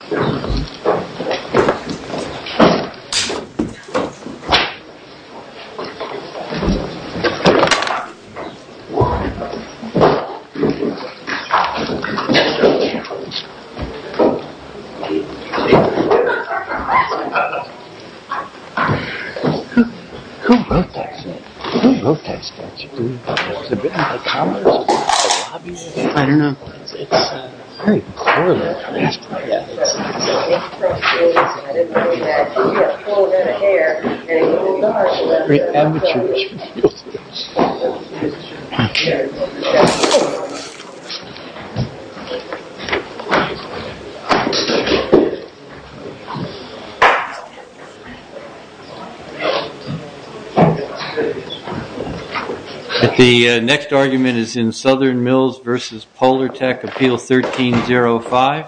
Who wrote that statute? Was it written by Thomas or Bobby? I don't know It's very clear there Polartec Appeal 1305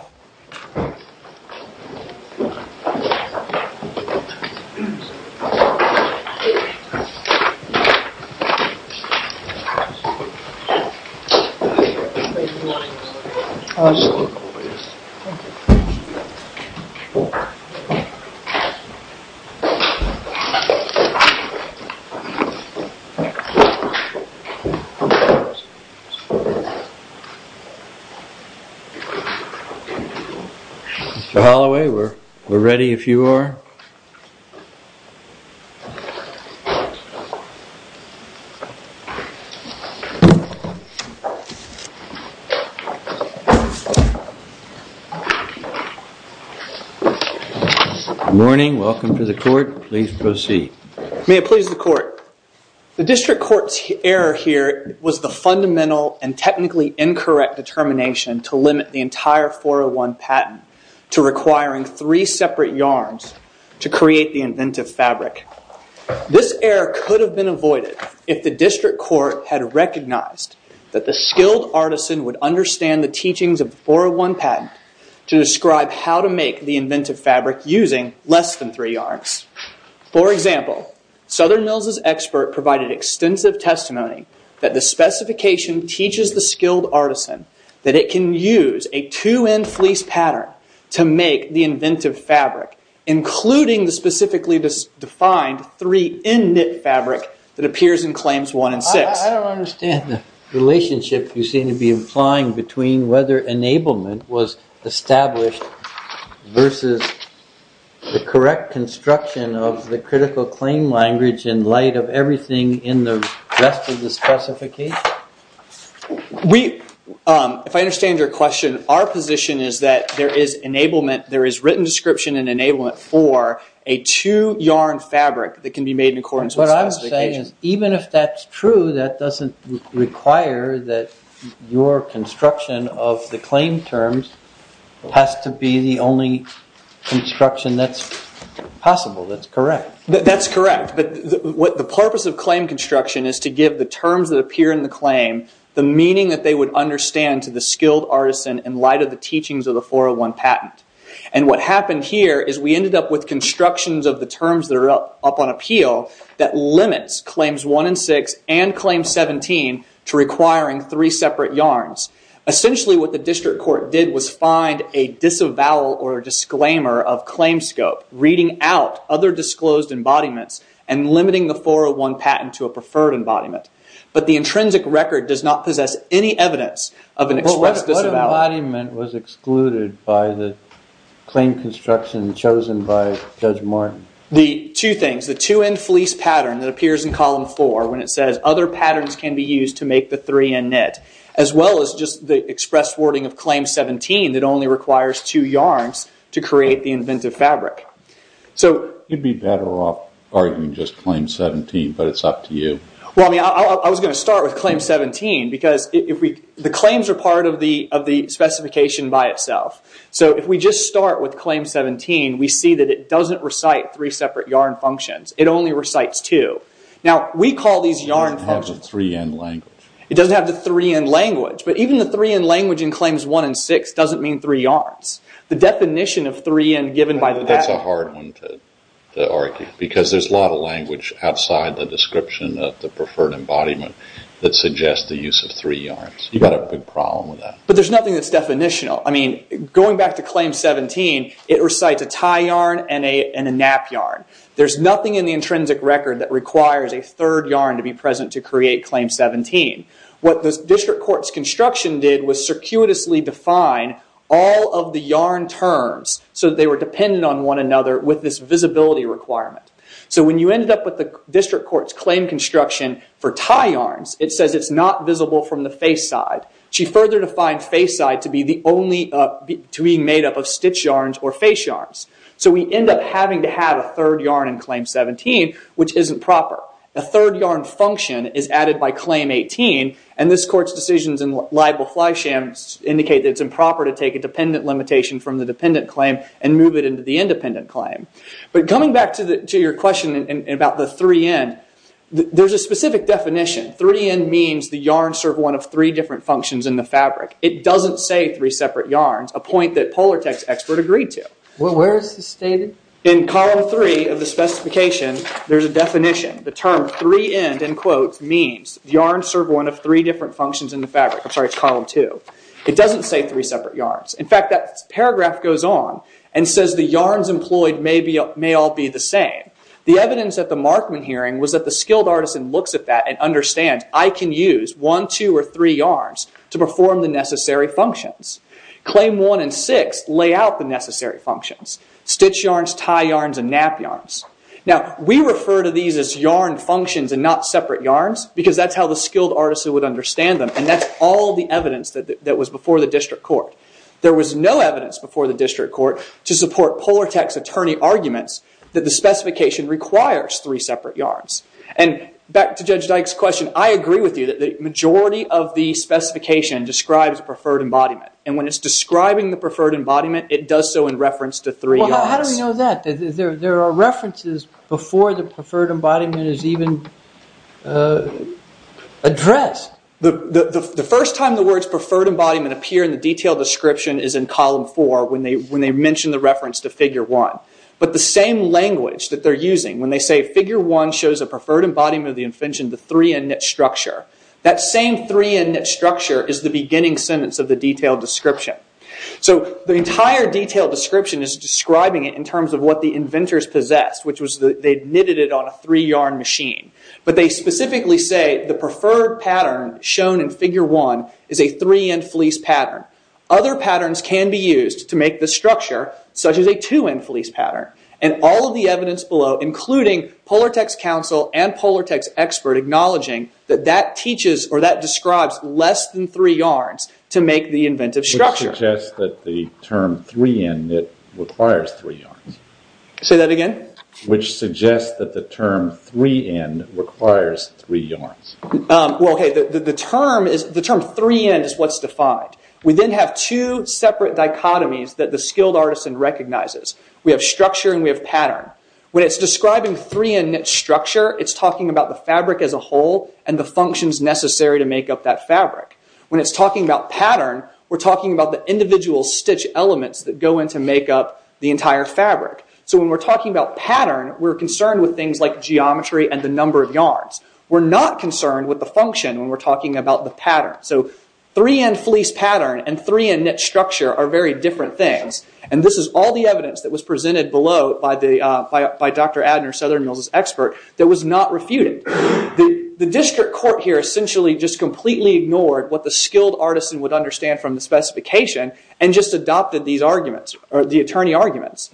Mr. Holloway, we're ready if you are. Good morning, welcome to the court. Please proceed. May it please the court. The district court's error here was the fundamental and technically incorrect determination to limit the entire 401 patent to requiring three separate yarns to create the inventive fabric. This error could have been avoided if the district court had recognized that the skilled artisan would understand the teachings of the 401 patent to describe how to make the inventive fabric using less than three yarns. For example, Southern Mills' expert provided extensive testimony that the specification teaches the skilled artisan that it can use a two-end fleece pattern to make the inventive fabric, including the specifically defined three-end knit fabric that appears in Claims 1 and 6. I don't understand the relationship you seem to be implying between whether enablement was established versus the correct construction of the critical claim language in light of everything in the rest of the specification. If I understand your question, our position is that there is written description and enablement for a two-yarn fabric that can be made in accordance with the specification. What you're saying is even if that's true, that doesn't require that your construction of the claim terms has to be the only construction that's possible, that's correct. That's correct. The purpose of claim construction is to give the terms that appear in the claim the meaning that they would understand to the skilled artisan in light of the teachings of the 401 patent. What happened here is we ended up with constructions of the terms that are up on appeal that limits Claims 1 and 6 and Claims 17 to requiring three separate yarns. Essentially, what the district court did was find a disavowal or disclaimer of claim scope, reading out other disclosed embodiments, and limiting the 401 patent to a preferred embodiment. But the intrinsic record does not possess any evidence of an expressed disavowal. What embodiment was excluded by the claim construction chosen by Judge Martin? The two things, the two-end fleece pattern that appears in Column 4 when it says other patterns can be used to make the three-end knit, as well as just the express wording of Claim 17 that only requires two yarns to create the inventive fabric. You'd be better off arguing just Claim 17, but it's up to you. I was going to start with Claim 17 because the claims are part of the specification by itself. If we just start with Claim 17, we see that it doesn't recite three separate yarn functions. It only recites two. It doesn't have the three-end language. It doesn't have the three-end language, but even the three-end language in Claims 1 and 6 doesn't mean three yarns. That's a hard one to argue because there's a lot of language outside the description of the preferred embodiment that suggests the use of three yarns. You've got a big problem with that. But there's nothing that's definitional. Going back to Claim 17, it recites a tie yarn and a nap yarn. There's nothing in the intrinsic record that requires a third yarn to be present to create Claim 17. What the district court's construction did was circuitously define all of the yarn terms so that they were dependent on one another with this visibility requirement. When you ended up with the district court's claim construction for tie yarns, it says it's not visible from the face side. She further defined face side to be made up of stitch yarns or face yarns. We end up having to have a third yarn in Claim 17, which isn't proper. A third yarn function is added by Claim 18, and this court's decisions in libel fly sham indicate that it's improper to take a dependent limitation from the dependent claim and move it into the independent claim. Coming back to your question about the three-end, there's a specific definition. Three-end means the yarns serve one of three different functions in the fabric. It doesn't say three separate yarns, a point that Polartec's expert agreed to. Where is this stated? In Column 3 of the specification, there's a definition. The term three-end, in quotes, means the yarns serve one of three different functions in the fabric. I'm sorry, it's Column 2. It doesn't say three separate yarns. In fact, that paragraph goes on and says the yarns employed may all be the same. The evidence at the Markman hearing was that the skilled artisan looks at that and understands, I can use one, two, or three yarns to perform the necessary functions. Claim 1 and 6 lay out the necessary functions. Stitch yarns, tie yarns, and nap yarns. We refer to these as yarn functions and not separate yarns because that's how the skilled artisan would understand them. That's all the evidence that was before the district court. There was no evidence before the district court to support Polartec's attorney arguments that the specification requires three separate yarns. Back to Judge Dyke's question, I agree with you that the majority of the specification describes preferred embodiment. When it's describing the preferred embodiment, it does so in reference to three yarns. How do we know that? There are references before the preferred embodiment is even addressed. The first time the words preferred embodiment appear in the detailed description is in Column 4 when they mention the reference to Figure 1. But the same language that they're using when they say, Figure 1 shows a preferred embodiment of the invention, the three-end knit structure. That same three-end knit structure is the beginning sentence of the detailed description. The entire detailed description is describing it in terms of what the inventors possessed, which was that they knitted it on a three-yarn machine. But they specifically say the preferred pattern shown in Figure 1 is a three-end fleece pattern. Other patterns can be used to make this structure, such as a two-end fleece pattern. All of the evidence below, including Polartec's counsel and Polartec's expert, acknowledging that that describes less than three yarns to make the inventive structure. Which suggests that the term three-end knit requires three yarns. Say that again? Which suggests that the term three-end requires three yarns. The term three-end is what's defined. We then have two separate dichotomies that the skilled artisan recognizes. We have structure and we have pattern. When it's describing three-end knit structure, it's talking about the fabric as a whole and the functions necessary to make up that fabric. When it's talking about pattern, we're talking about the individual stitch elements that go in to make up the entire fabric. So when we're talking about pattern, we're concerned with things like geometry and the number of yarns. We're not concerned with the function when we're talking about the pattern. So three-end fleece pattern and three-end knit structure are very different things. This is all the evidence that was presented below by Dr. Adner, Southern Mills' expert, that was not refuted. The district court here essentially just completely ignored what the skilled artisan would understand from the specification and just adopted the attorney arguments.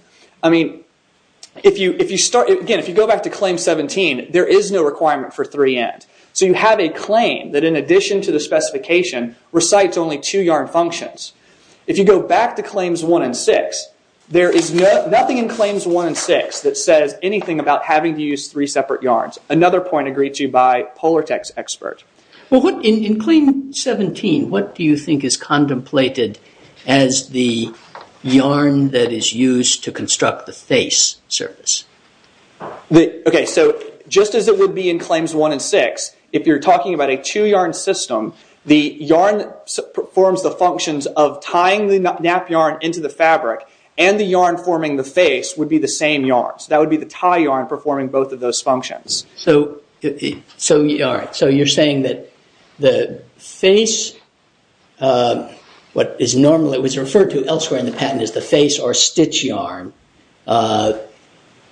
If you go back to Claim 17, there is no requirement for three-end. So you have a claim that in addition to the specification recites only two yarn functions. If you go back to Claims 1 and 6, there is nothing in Claims 1 and 6 that says anything about having to use three separate yarns. Another point agreed to by Polartec's expert. In Claim 17, what do you think is contemplated as the yarn that is used to construct the face surface? Just as it would be in Claims 1 and 6, if you're talking about a two-yarn system, the yarn performs the functions of tying the nap yarn into the fabric and the yarn forming the face would be the same yarn. So that would be the tie yarn performing both of those functions. So you're saying that the face, what was referred to elsewhere in the patent as the face or stitch yarn,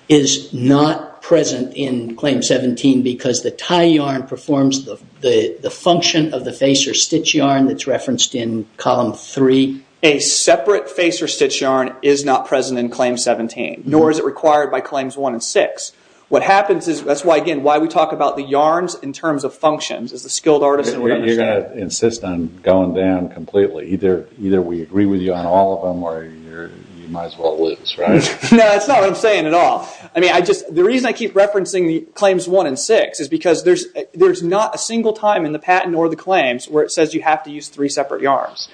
is not present in Claim 17 because the tie yarn performs the function of the face or stitch yarn that's referenced in Column 3? A separate face or stitch yarn is not present in Claim 17. Nor is it required by Claims 1 and 6. What happens is, that's why we talk about the yarns in terms of functions, as the skilled artisan would understand. You're going to insist on going down completely. Either we agree with you on all of them or you might as well lose, right? No, that's not what I'm saying at all. The reason I keep referencing Claims 1 and 6 is because there's not a single time in the patent or the claims where it says you have to use three separate yarns.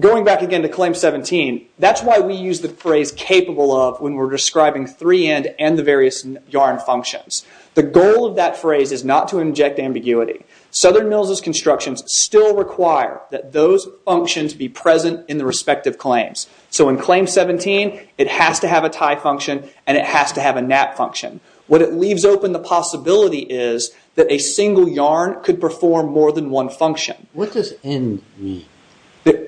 Going back again to Claim 17, that's why we use the phrase capable of when we're describing three-end and the various yarn functions. The goal of that phrase is not to inject ambiguity. Southern Mills' constructions still require that those functions be present in the respective claims. In Claim 17, it has to have a tie function and it has to have a knot function. What it leaves open the possibility is that a single yarn could perform more than one function. What does end mean?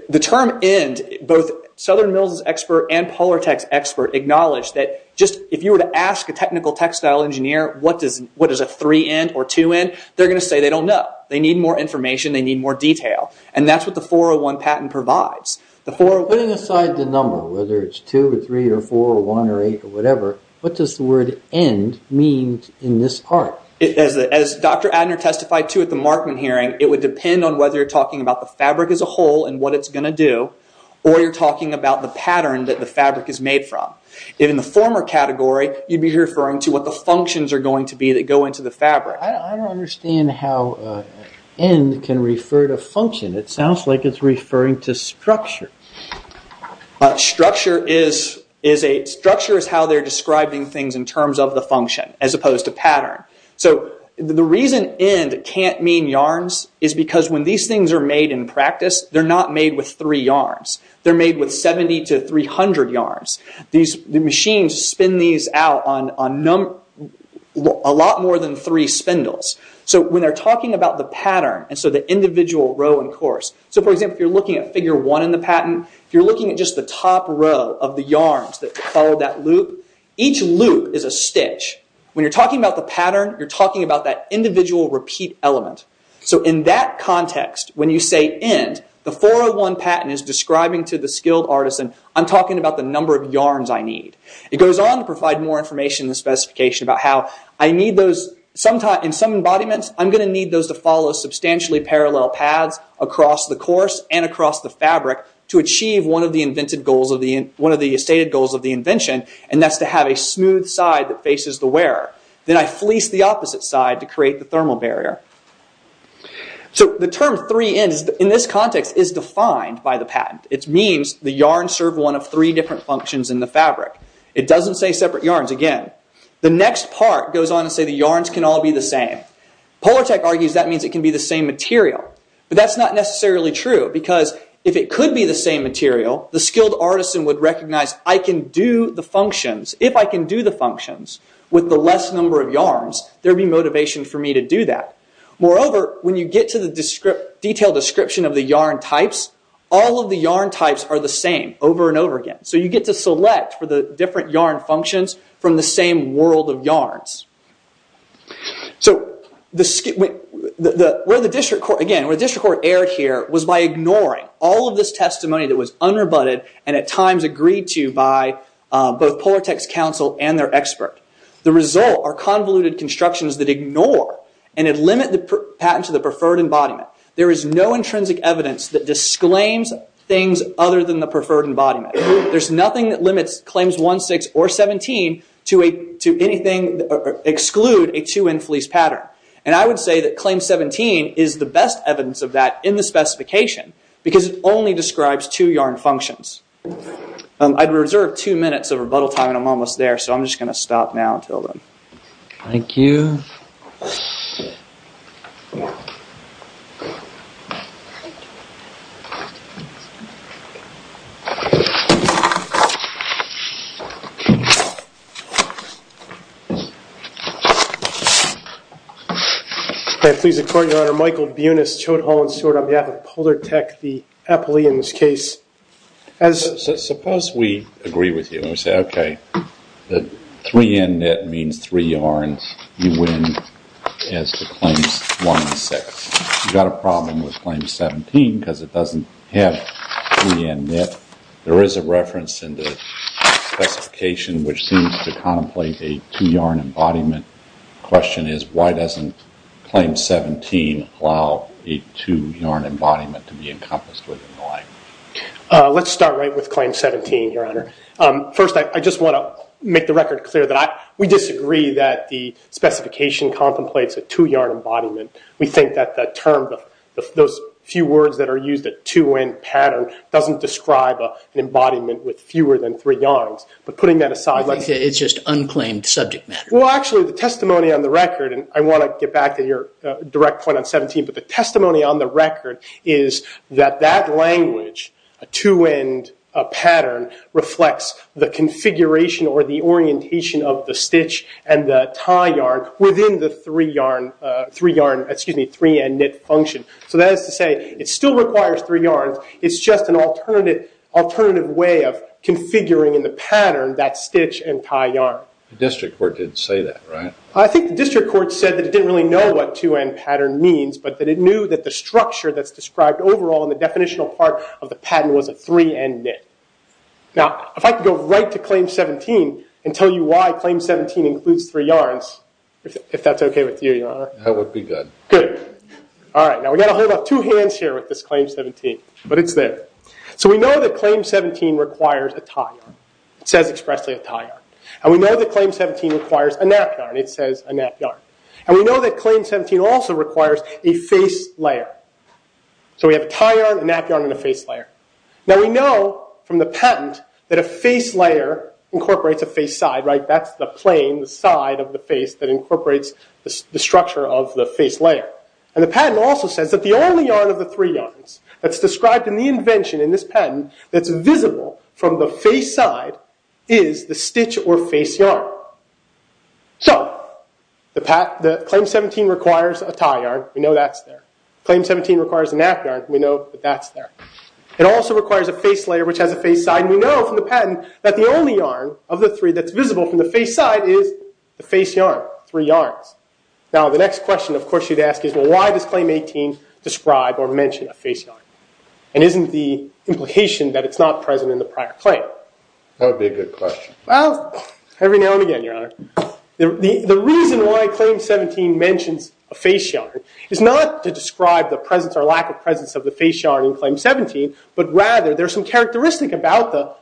The term end, both Southern Mills' expert and Polartec's expert acknowledge that if you were to ask a technical textile engineer what does a three-end or two-end, they're going to say they don't know. They need more information. They need more detail. That's what the 401 patent provides. Putting aside the number, whether it's 2 or 3 or 4 or 1 or 8 or whatever, what does the word end mean in this part? As Dr. Adner testified to at the Markman hearing, it would depend on whether you're talking about the fabric as a whole and what it's going to do or you're talking about the pattern that the fabric is made from. In the former category, you'd be referring to what the functions are going to be that go into the fabric. I don't understand how end can refer to function. It sounds like it's referring to structure. Structure is how they're describing things in terms of the function as opposed to pattern. The reason end can't mean yarns is because when these things are made in practice, they're not made with three yarns. They're made with 70 to 300 yarns. The machines spin these out on a lot more than three spindles. When they're talking about the pattern, the individual row and course, for example, if you're looking at figure 1 in the patent, if you're looking at just the top row of the yarns that follow that loop, each loop is a stitch. When you're talking about the pattern, you're talking about that individual repeat element. In that context, when you say end, the 401 patent is describing to the skilled artisan, I'm talking about the number of yarns I need. It goes on to provide more information in the specification about how in some embodiments, I'm going to need those to follow substantially parallel paths across the course and across the fabric to achieve one of the stated goals of the invention, and that's to have a smooth side that faces the wearer. Then I fleece the opposite side to create the thermal barrier. The term three ends, in this context, is defined by the patent. It means the yarns serve one of three different functions in the fabric. It doesn't say separate yarns again. The next part goes on to say the yarns can all be the same. Polartec argues that means it can be the same material, but that's not necessarily true because if it could be the same material, the skilled artisan would recognize I can do the functions. If I can do the functions with the less number of yarns, there would be motivation for me to do that. Moreover, when you get to the detailed description of the yarn types, all of the yarn types are the same over and over again. You get to select for the different yarn functions from the same world of yarns. Where the district court erred here was by ignoring all of this testimony that was unrebutted and at times agreed to by both Polartec's counsel and their expert. The result are convoluted constructions that ignore and limit the patent to the preferred embodiment. There is no intrinsic evidence that disclaims things other than the preferred embodiment. There's nothing that limits Claims 1.6 or 17 to exclude a two-in-fleece pattern. I would say that Claims 17 is the best evidence of that in the specification because it only describes two yarn functions. I'd reserve two minutes of rebuttal time and I'm almost there, so I'm just going to stop now and tell them. Thank you. May it please the Court, Your Honor. Michael Buenis, Chode Hall and Stewart on behalf of Polartec, the appellee in this case. Suppose we agree with you and we say, okay, the three-in-knit means three yarns. You win as to Claims 1.6. You've got a problem with Claims 17 because it doesn't have three-in-knit. There is a reference in the specification which seems to contemplate a two-yarn embodiment. The question is why doesn't Claims 17 allow a two-yarn embodiment to be encompassed within the line? Let's start right with Claims 17, Your Honor. First, I just want to make the record clear that we disagree that the specification contemplates a two-yarn embodiment. We think that the term, those few words that are used, a two-end pattern, doesn't describe an embodiment with fewer than three yarns. But putting that aside, let's... It's just unclaimed subject matter. Well, actually, the testimony on the record, and I want to get back to your direct point on 17, but the testimony on the record is that that language, a two-end pattern, reflects the configuration or the orientation of the stitch and the tie yarn within the three-yarn, excuse me, three-in-knit function. So that is to say it still requires three yarns. It's just an alternative way of configuring in the pattern that stitch and tie yarn. The district court did say that, right? I think the district court said that it didn't really know what two-end pattern means, but that it knew that the structure that's described overall in the definitional part of the pattern was a three-in-knit. Now, if I could go right to Claims 17 and tell you why Claims 17 includes three yarns, if that's okay with you, Your Honor? That would be good. Good. All right, now we've got to hold up two hands here with this Claims 17, but it's there. So we know that Claims 17 requires a tie yarn. It says expressly a tie yarn. And we know that Claims 17 requires a nap yarn. It says a nap yarn. And we know that Claims 17 also requires a face layer. So we have a tie yarn, a nap yarn, and a face layer. Now, we know from the patent that a face layer incorporates a face side, right? That's the plane, the side of the face that incorporates the structure of the face layer. And the patent also says that the only yarn of the three yarns that's described in the invention in this patent that's visible from the face side is the stitch or face yarn. So Claims 17 requires a tie yarn. We know that's there. Claims 17 requires a nap yarn. We know that that's there. It also requires a face layer, which has a face side. And we know from the patent that the only yarn of the three that's visible from the face side is the face yarn, three yarns. Now, the next question, of course, you'd ask is, well, why does Claim 18 describe or mention a face yarn? And isn't the implication that it's not present in the prior claim? That would be a good question. Well, every now and again, Your Honor. The reason why Claim 17 mentions a face yarn is not to describe the presence or lack of presence of the face yarn in Claim 17, but rather there's some characteristic about the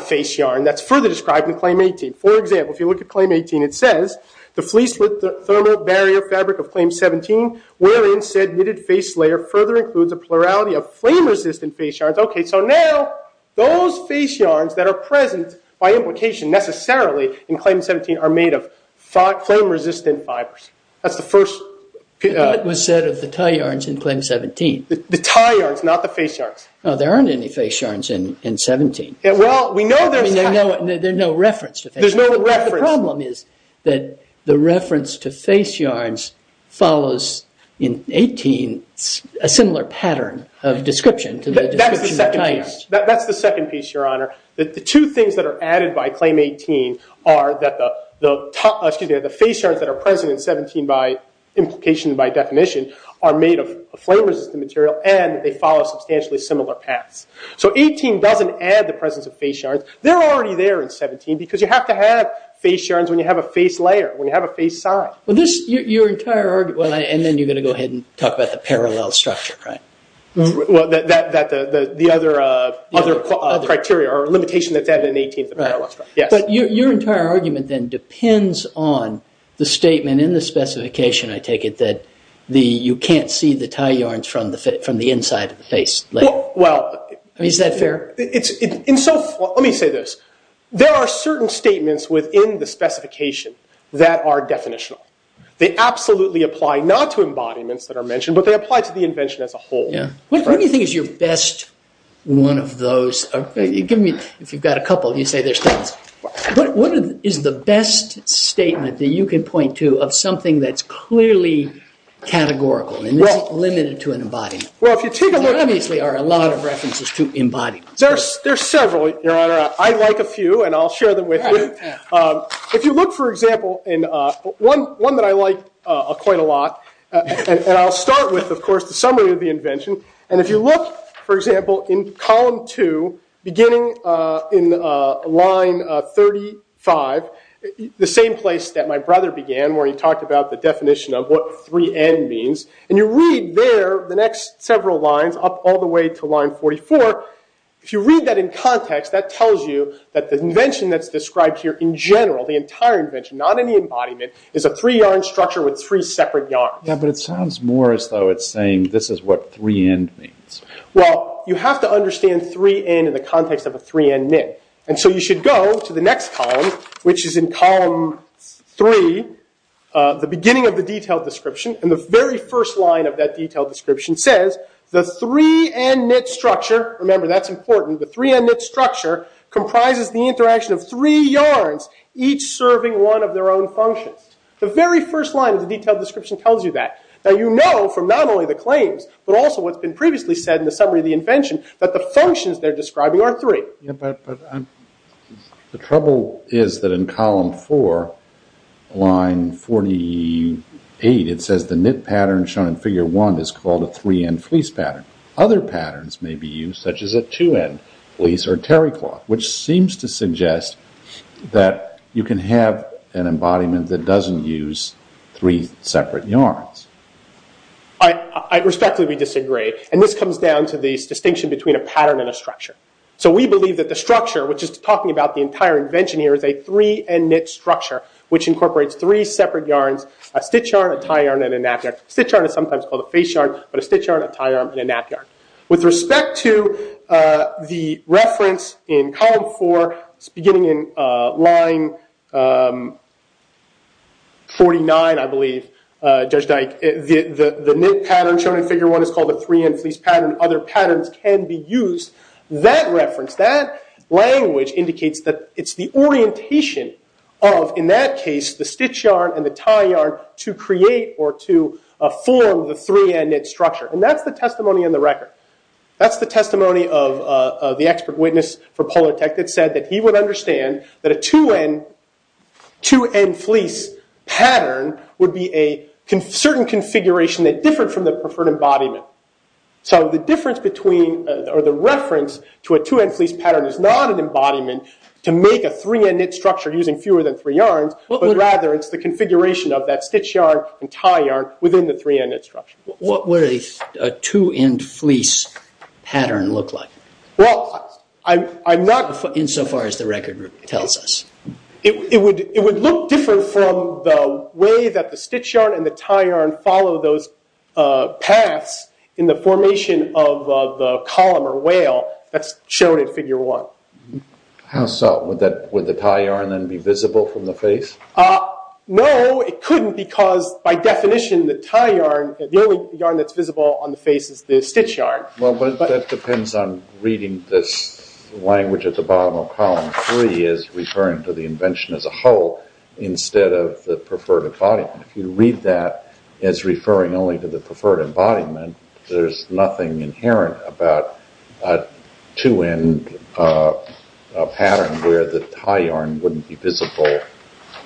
face yarn that's further described in Claim 18. For example, if you look at Claim 18, it says, The fleece-width thermal barrier fabric of Claim 17, wherein said knitted face layer further includes a plurality of flame-resistant face yarns. Okay, so now those face yarns that are present by implication necessarily in Claim 17 are made of flame-resistant fibers. That's the first. But that was said of the tie yarns in Claim 17. The tie yarns, not the face yarns. No, there aren't any face yarns in 17. Well, we know there's. I mean, there's no reference to face yarns. There's no reference. The problem is that the reference to face yarns follows in 18 a similar pattern of description to the description of tie yarns. That's the second piece, Your Honor. The two things that are added by Claim 18 are that the face yarns that are present in 17 by implication and by definition are made of flame-resistant material and they follow substantially similar paths. So 18 doesn't add the presence of face yarns. They're already there in 17 because you have to have face yarns when you have a face layer, when you have a face side. Well, this, your entire argument, and then you're going to go ahead and talk about the parallel structure, right? Well, the other criteria or limitation that's added in 18 is the parallel structure, yes. But your entire argument then depends on the statement in the specification, I take it, that you can't see the tie yarns from the inside of the face layer. Well. I mean, is that fair? Let me say this. There are certain statements within the specification that are definitional. They absolutely apply not to embodiments that are mentioned, but they apply to the invention as a whole. What do you think is your best one of those? Give me, if you've got a couple, you say they're statements. What is the best statement that you can point to of something that's clearly categorical and isn't limited to an embodiment? There obviously are a lot of references to embodiments. There are several, Your Honor. I like a few, and I'll share them with you. If you look, for example, in one that I like quite a lot, and I'll start with, of course, the summary of the invention. And if you look, for example, in column two, beginning in line 35, the same place that my brother began, where he talked about the definition of what 3N means. And you read there the next several lines up all the way to line 44. If you read that in context, that tells you that the invention that's described here in general, the entire invention, not any embodiment, is a three-yarn structure with three separate yarns. Yeah, but it sounds more as though it's saying this is what 3N means. Well, you have to understand 3N in the context of a 3N knit. And so you should go to the next column, which is in column three, the beginning of the detailed description, and the very first line of that detailed description says the 3N knit structure. Remember, that's important. The 3N knit structure comprises the interaction of three yarns, each serving one of their own functions. The very first line of the detailed description tells you that. Now, you know from not only the claims, but also what's been previously said in the summary of the invention, that the functions they're describing are three. The trouble is that in column four, line 48, it says the knit pattern shown in figure one is called a 3N fleece pattern. Other patterns may be used, such as a 2N fleece or terry cloth, which seems to suggest that you can have an embodiment that doesn't use three separate yarns. I respectfully disagree. And this comes down to the distinction between a pattern and a structure. So we believe that the structure, which is talking about the entire invention here, is a 3N knit structure, which incorporates three separate yarns, a stitch yarn, a tie yarn, and a nap yarn. Stitch yarn is sometimes called a face yarn, but a stitch yarn, a tie yarn, and a nap yarn. With respect to the reference in column four, beginning in line 49, I believe, Judge Dyke, the knit pattern shown in figure one is called a 3N fleece pattern. Other patterns can be used. That reference, that language indicates that it's the orientation of, in that case, the stitch yarn and the tie yarn to create or to form the 3N knit structure. And that's the testimony in the record. That's the testimony of the expert witness for Polartec that said that he would understand that a 2N fleece pattern would be a certain configuration that differed from the preferred embodiment. So the reference to a 2N fleece pattern is not an embodiment to make a 3N knit structure using fewer than three yarns, but rather it's the configuration of that stitch yarn and tie yarn within the 3N knit structure. What would a 2N fleece pattern look like? Well, I'm not... Insofar as the record tells us. It would look different from the way that the stitch yarn and the tie yarn follow those paths in the formation of the column or whale that's shown in figure one. How so? Would the tie yarn then be visible from the face? No, it couldn't because by definition the tie yarn, the only yarn that's visible on the face is the stitch yarn. Well, but that depends on reading this language at the bottom of column three as referring to the invention as a whole instead of the preferred embodiment. If you read that as referring only to the preferred embodiment, there's nothing inherent about a 2N pattern where the tie yarn wouldn't be visible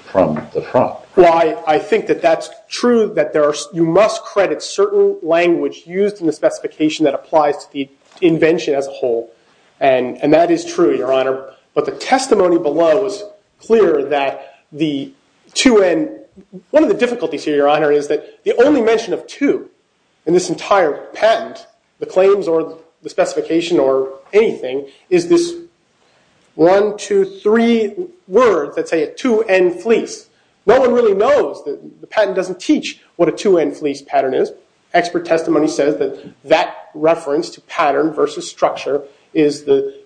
from the front. Well, I think that that's true, that you must credit certain language used in the specification that applies to the invention as a whole, and that is true, Your Honor. But the testimony below is clear that the 2N... One of the difficulties here, Your Honor, is that the only mention of 2 in this entire patent, the claims or the specification or anything, is this one, two, three words that say a 2N fleece. No one really knows. The patent doesn't teach what a 2N fleece pattern is. Expert testimony says that that reference to pattern versus structure is the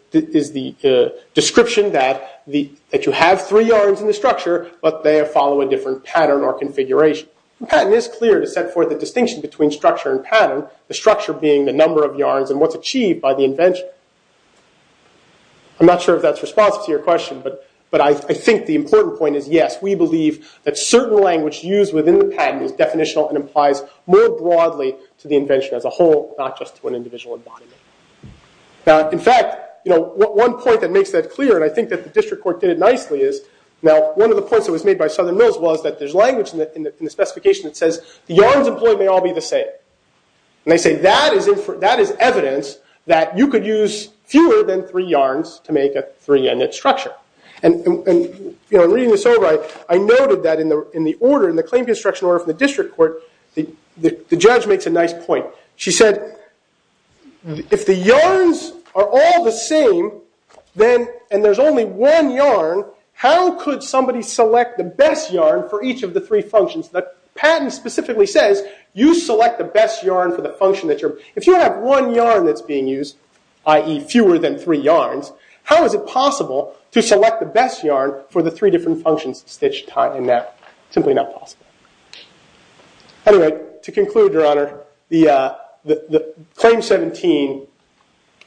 description that you have three yarns in the structure, but they follow a different pattern or configuration. The patent is clear to set forth the distinction between structure and pattern, the structure being the number of yarns and what's achieved by the invention. I'm not sure if that's responsive to your question, but I think the important point is yes, we believe that certain language used within the patent is definitional and applies more broadly to the invention as a whole, not just to an individual embodiment. Now, in fact, one point that makes that clear, and I think that the district court did it nicely, is now one of the points that was made by Southern Mills was that there's language in the specification that says the yarns employed may all be the same, and they say that is evidence that you could use fewer than three yarns to make a 3N structure. In reading this over, I noted that in the claim construction order for the district court, the judge makes a nice point. She said if the yarns are all the same and there's only one yarn, how could somebody select the best yarn for each of the three functions? The patent specifically says you select the best yarn for the function that you're... If you have one yarn that's being used, i.e. fewer than three yarns, how is it possible to select the best yarn for the three different functions, stitch, tie, and net? Simply not possible. Anyway, to conclude, Your Honor, the Claim 17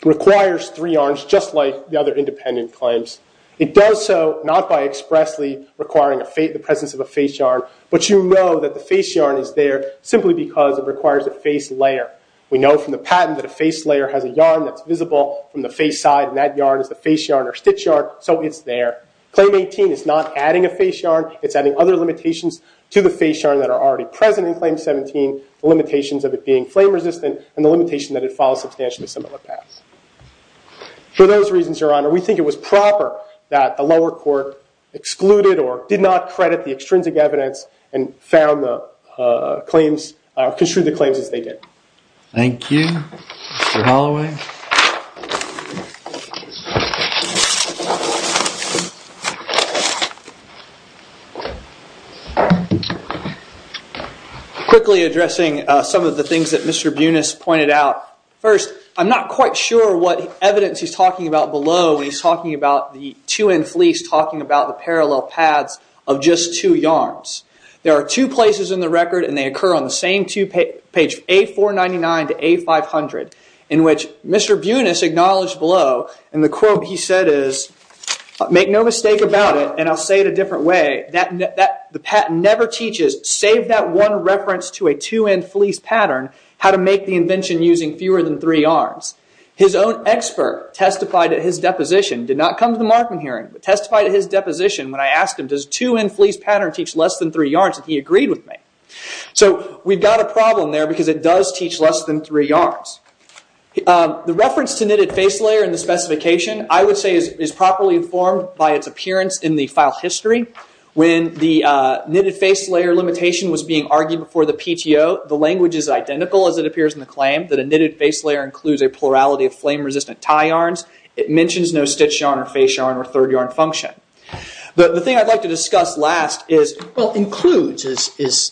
requires three yarns, just like the other independent claims. It does so not by expressly requiring the presence of a face yarn, but you know that the face yarn is there simply because it requires a face layer. We know from the patent that a face layer has a yarn that's visible from the face side, and that yarn is the face yarn or stitch yarn, so it's there. Claim 18 is not adding a face yarn. It's adding other limitations to the face yarn that are already present in Claim 17, the limitations of it being flame-resistant, and the limitation that it follows substantially similar paths. For those reasons, Your Honor, we think it was proper that the lower court excluded or did not credit the extrinsic evidence and found the claims... construed the claims as they did. Thank you, Mr. Holloway. Quickly addressing some of the things that Mr. Bunas pointed out. First, I'm not quite sure what evidence he's talking about below when he's talking about the two-end fleece talking about the parallel paths of just two yarns. There are two places in the record, and they occur on the same page, A499 to A500, in which Mr. Bunas acknowledged below, and the quote he said is, make no mistake about it, and I'll say it a different way, the patent never teaches, save that one reference to a two-end fleece pattern, how to make the invention using fewer than three yarns. His own expert testified at his deposition, did not come to the Markman hearing, but testified at his deposition when I asked him, does a two-end fleece pattern teach less than three yarns? He agreed with me. We've got a problem there because it does teach less than three yarns. The reference to knitted face layer in the specification, I would say is properly informed by its appearance in the file history. When the knitted face layer limitation was being argued before the PTO, the language is identical as it appears in the claim, that a knitted face layer includes a plurality of flame-resistant tie yarns. It mentions no stitch yarn or face yarn or third yarn function. The thing I'd like to discuss last is... Well, includes, it's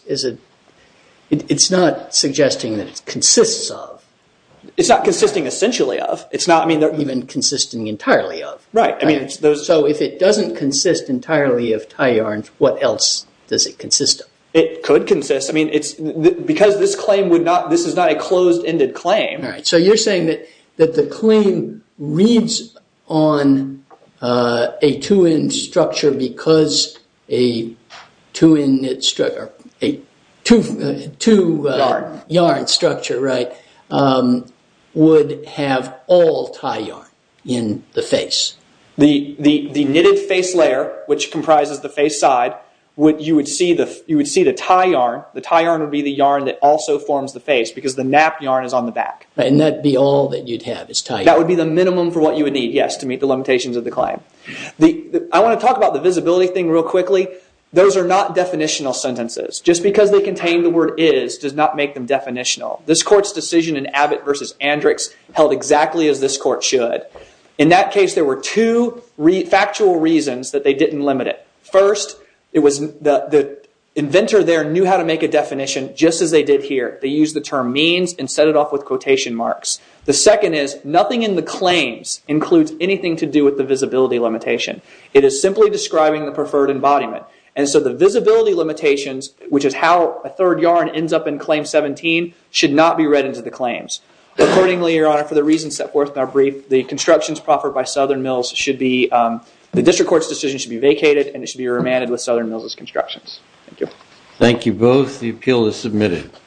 not suggesting that it consists of. It's not consisting essentially of. It's not even consisting entirely of. Right. So if it doesn't consist entirely of tie yarns, what else does it consist of? It could consist. Because this is not a closed-ended claim... A two-end structure because a two-end knit structure, a two-yarn structure, right, would have all tie yarn in the face. The knitted face layer, which comprises the face side, you would see the tie yarn. The tie yarn would be the yarn that also forms the face because the nap yarn is on the back. And that'd be all that you'd have is tie yarn. That would be the minimum for what you would need, yes, to meet the limitations of the claim. I want to talk about the visibility thing real quickly. Those are not definitional sentences. Just because they contain the word is does not make them definitional. This court's decision in Abbott v. Andrix held exactly as this court should. In that case, there were two factual reasons that they didn't limit it. First, the inventor there knew how to make a definition just as they did here. They used the term means and set it off with quotation marks. The second is nothing in the claims includes anything to do with the visibility limitation. It is simply describing the preferred embodiment. And so the visibility limitations, which is how a third yarn ends up in Claim 17, should not be read into the claims. Accordingly, Your Honor, for the reasons set forth in our brief, the constructions proffered by Southern Mills should be, the district court's decision should be vacated and it should be remanded with Southern Mills as constructions. Thank you. Thank you both. The appeal is submitted.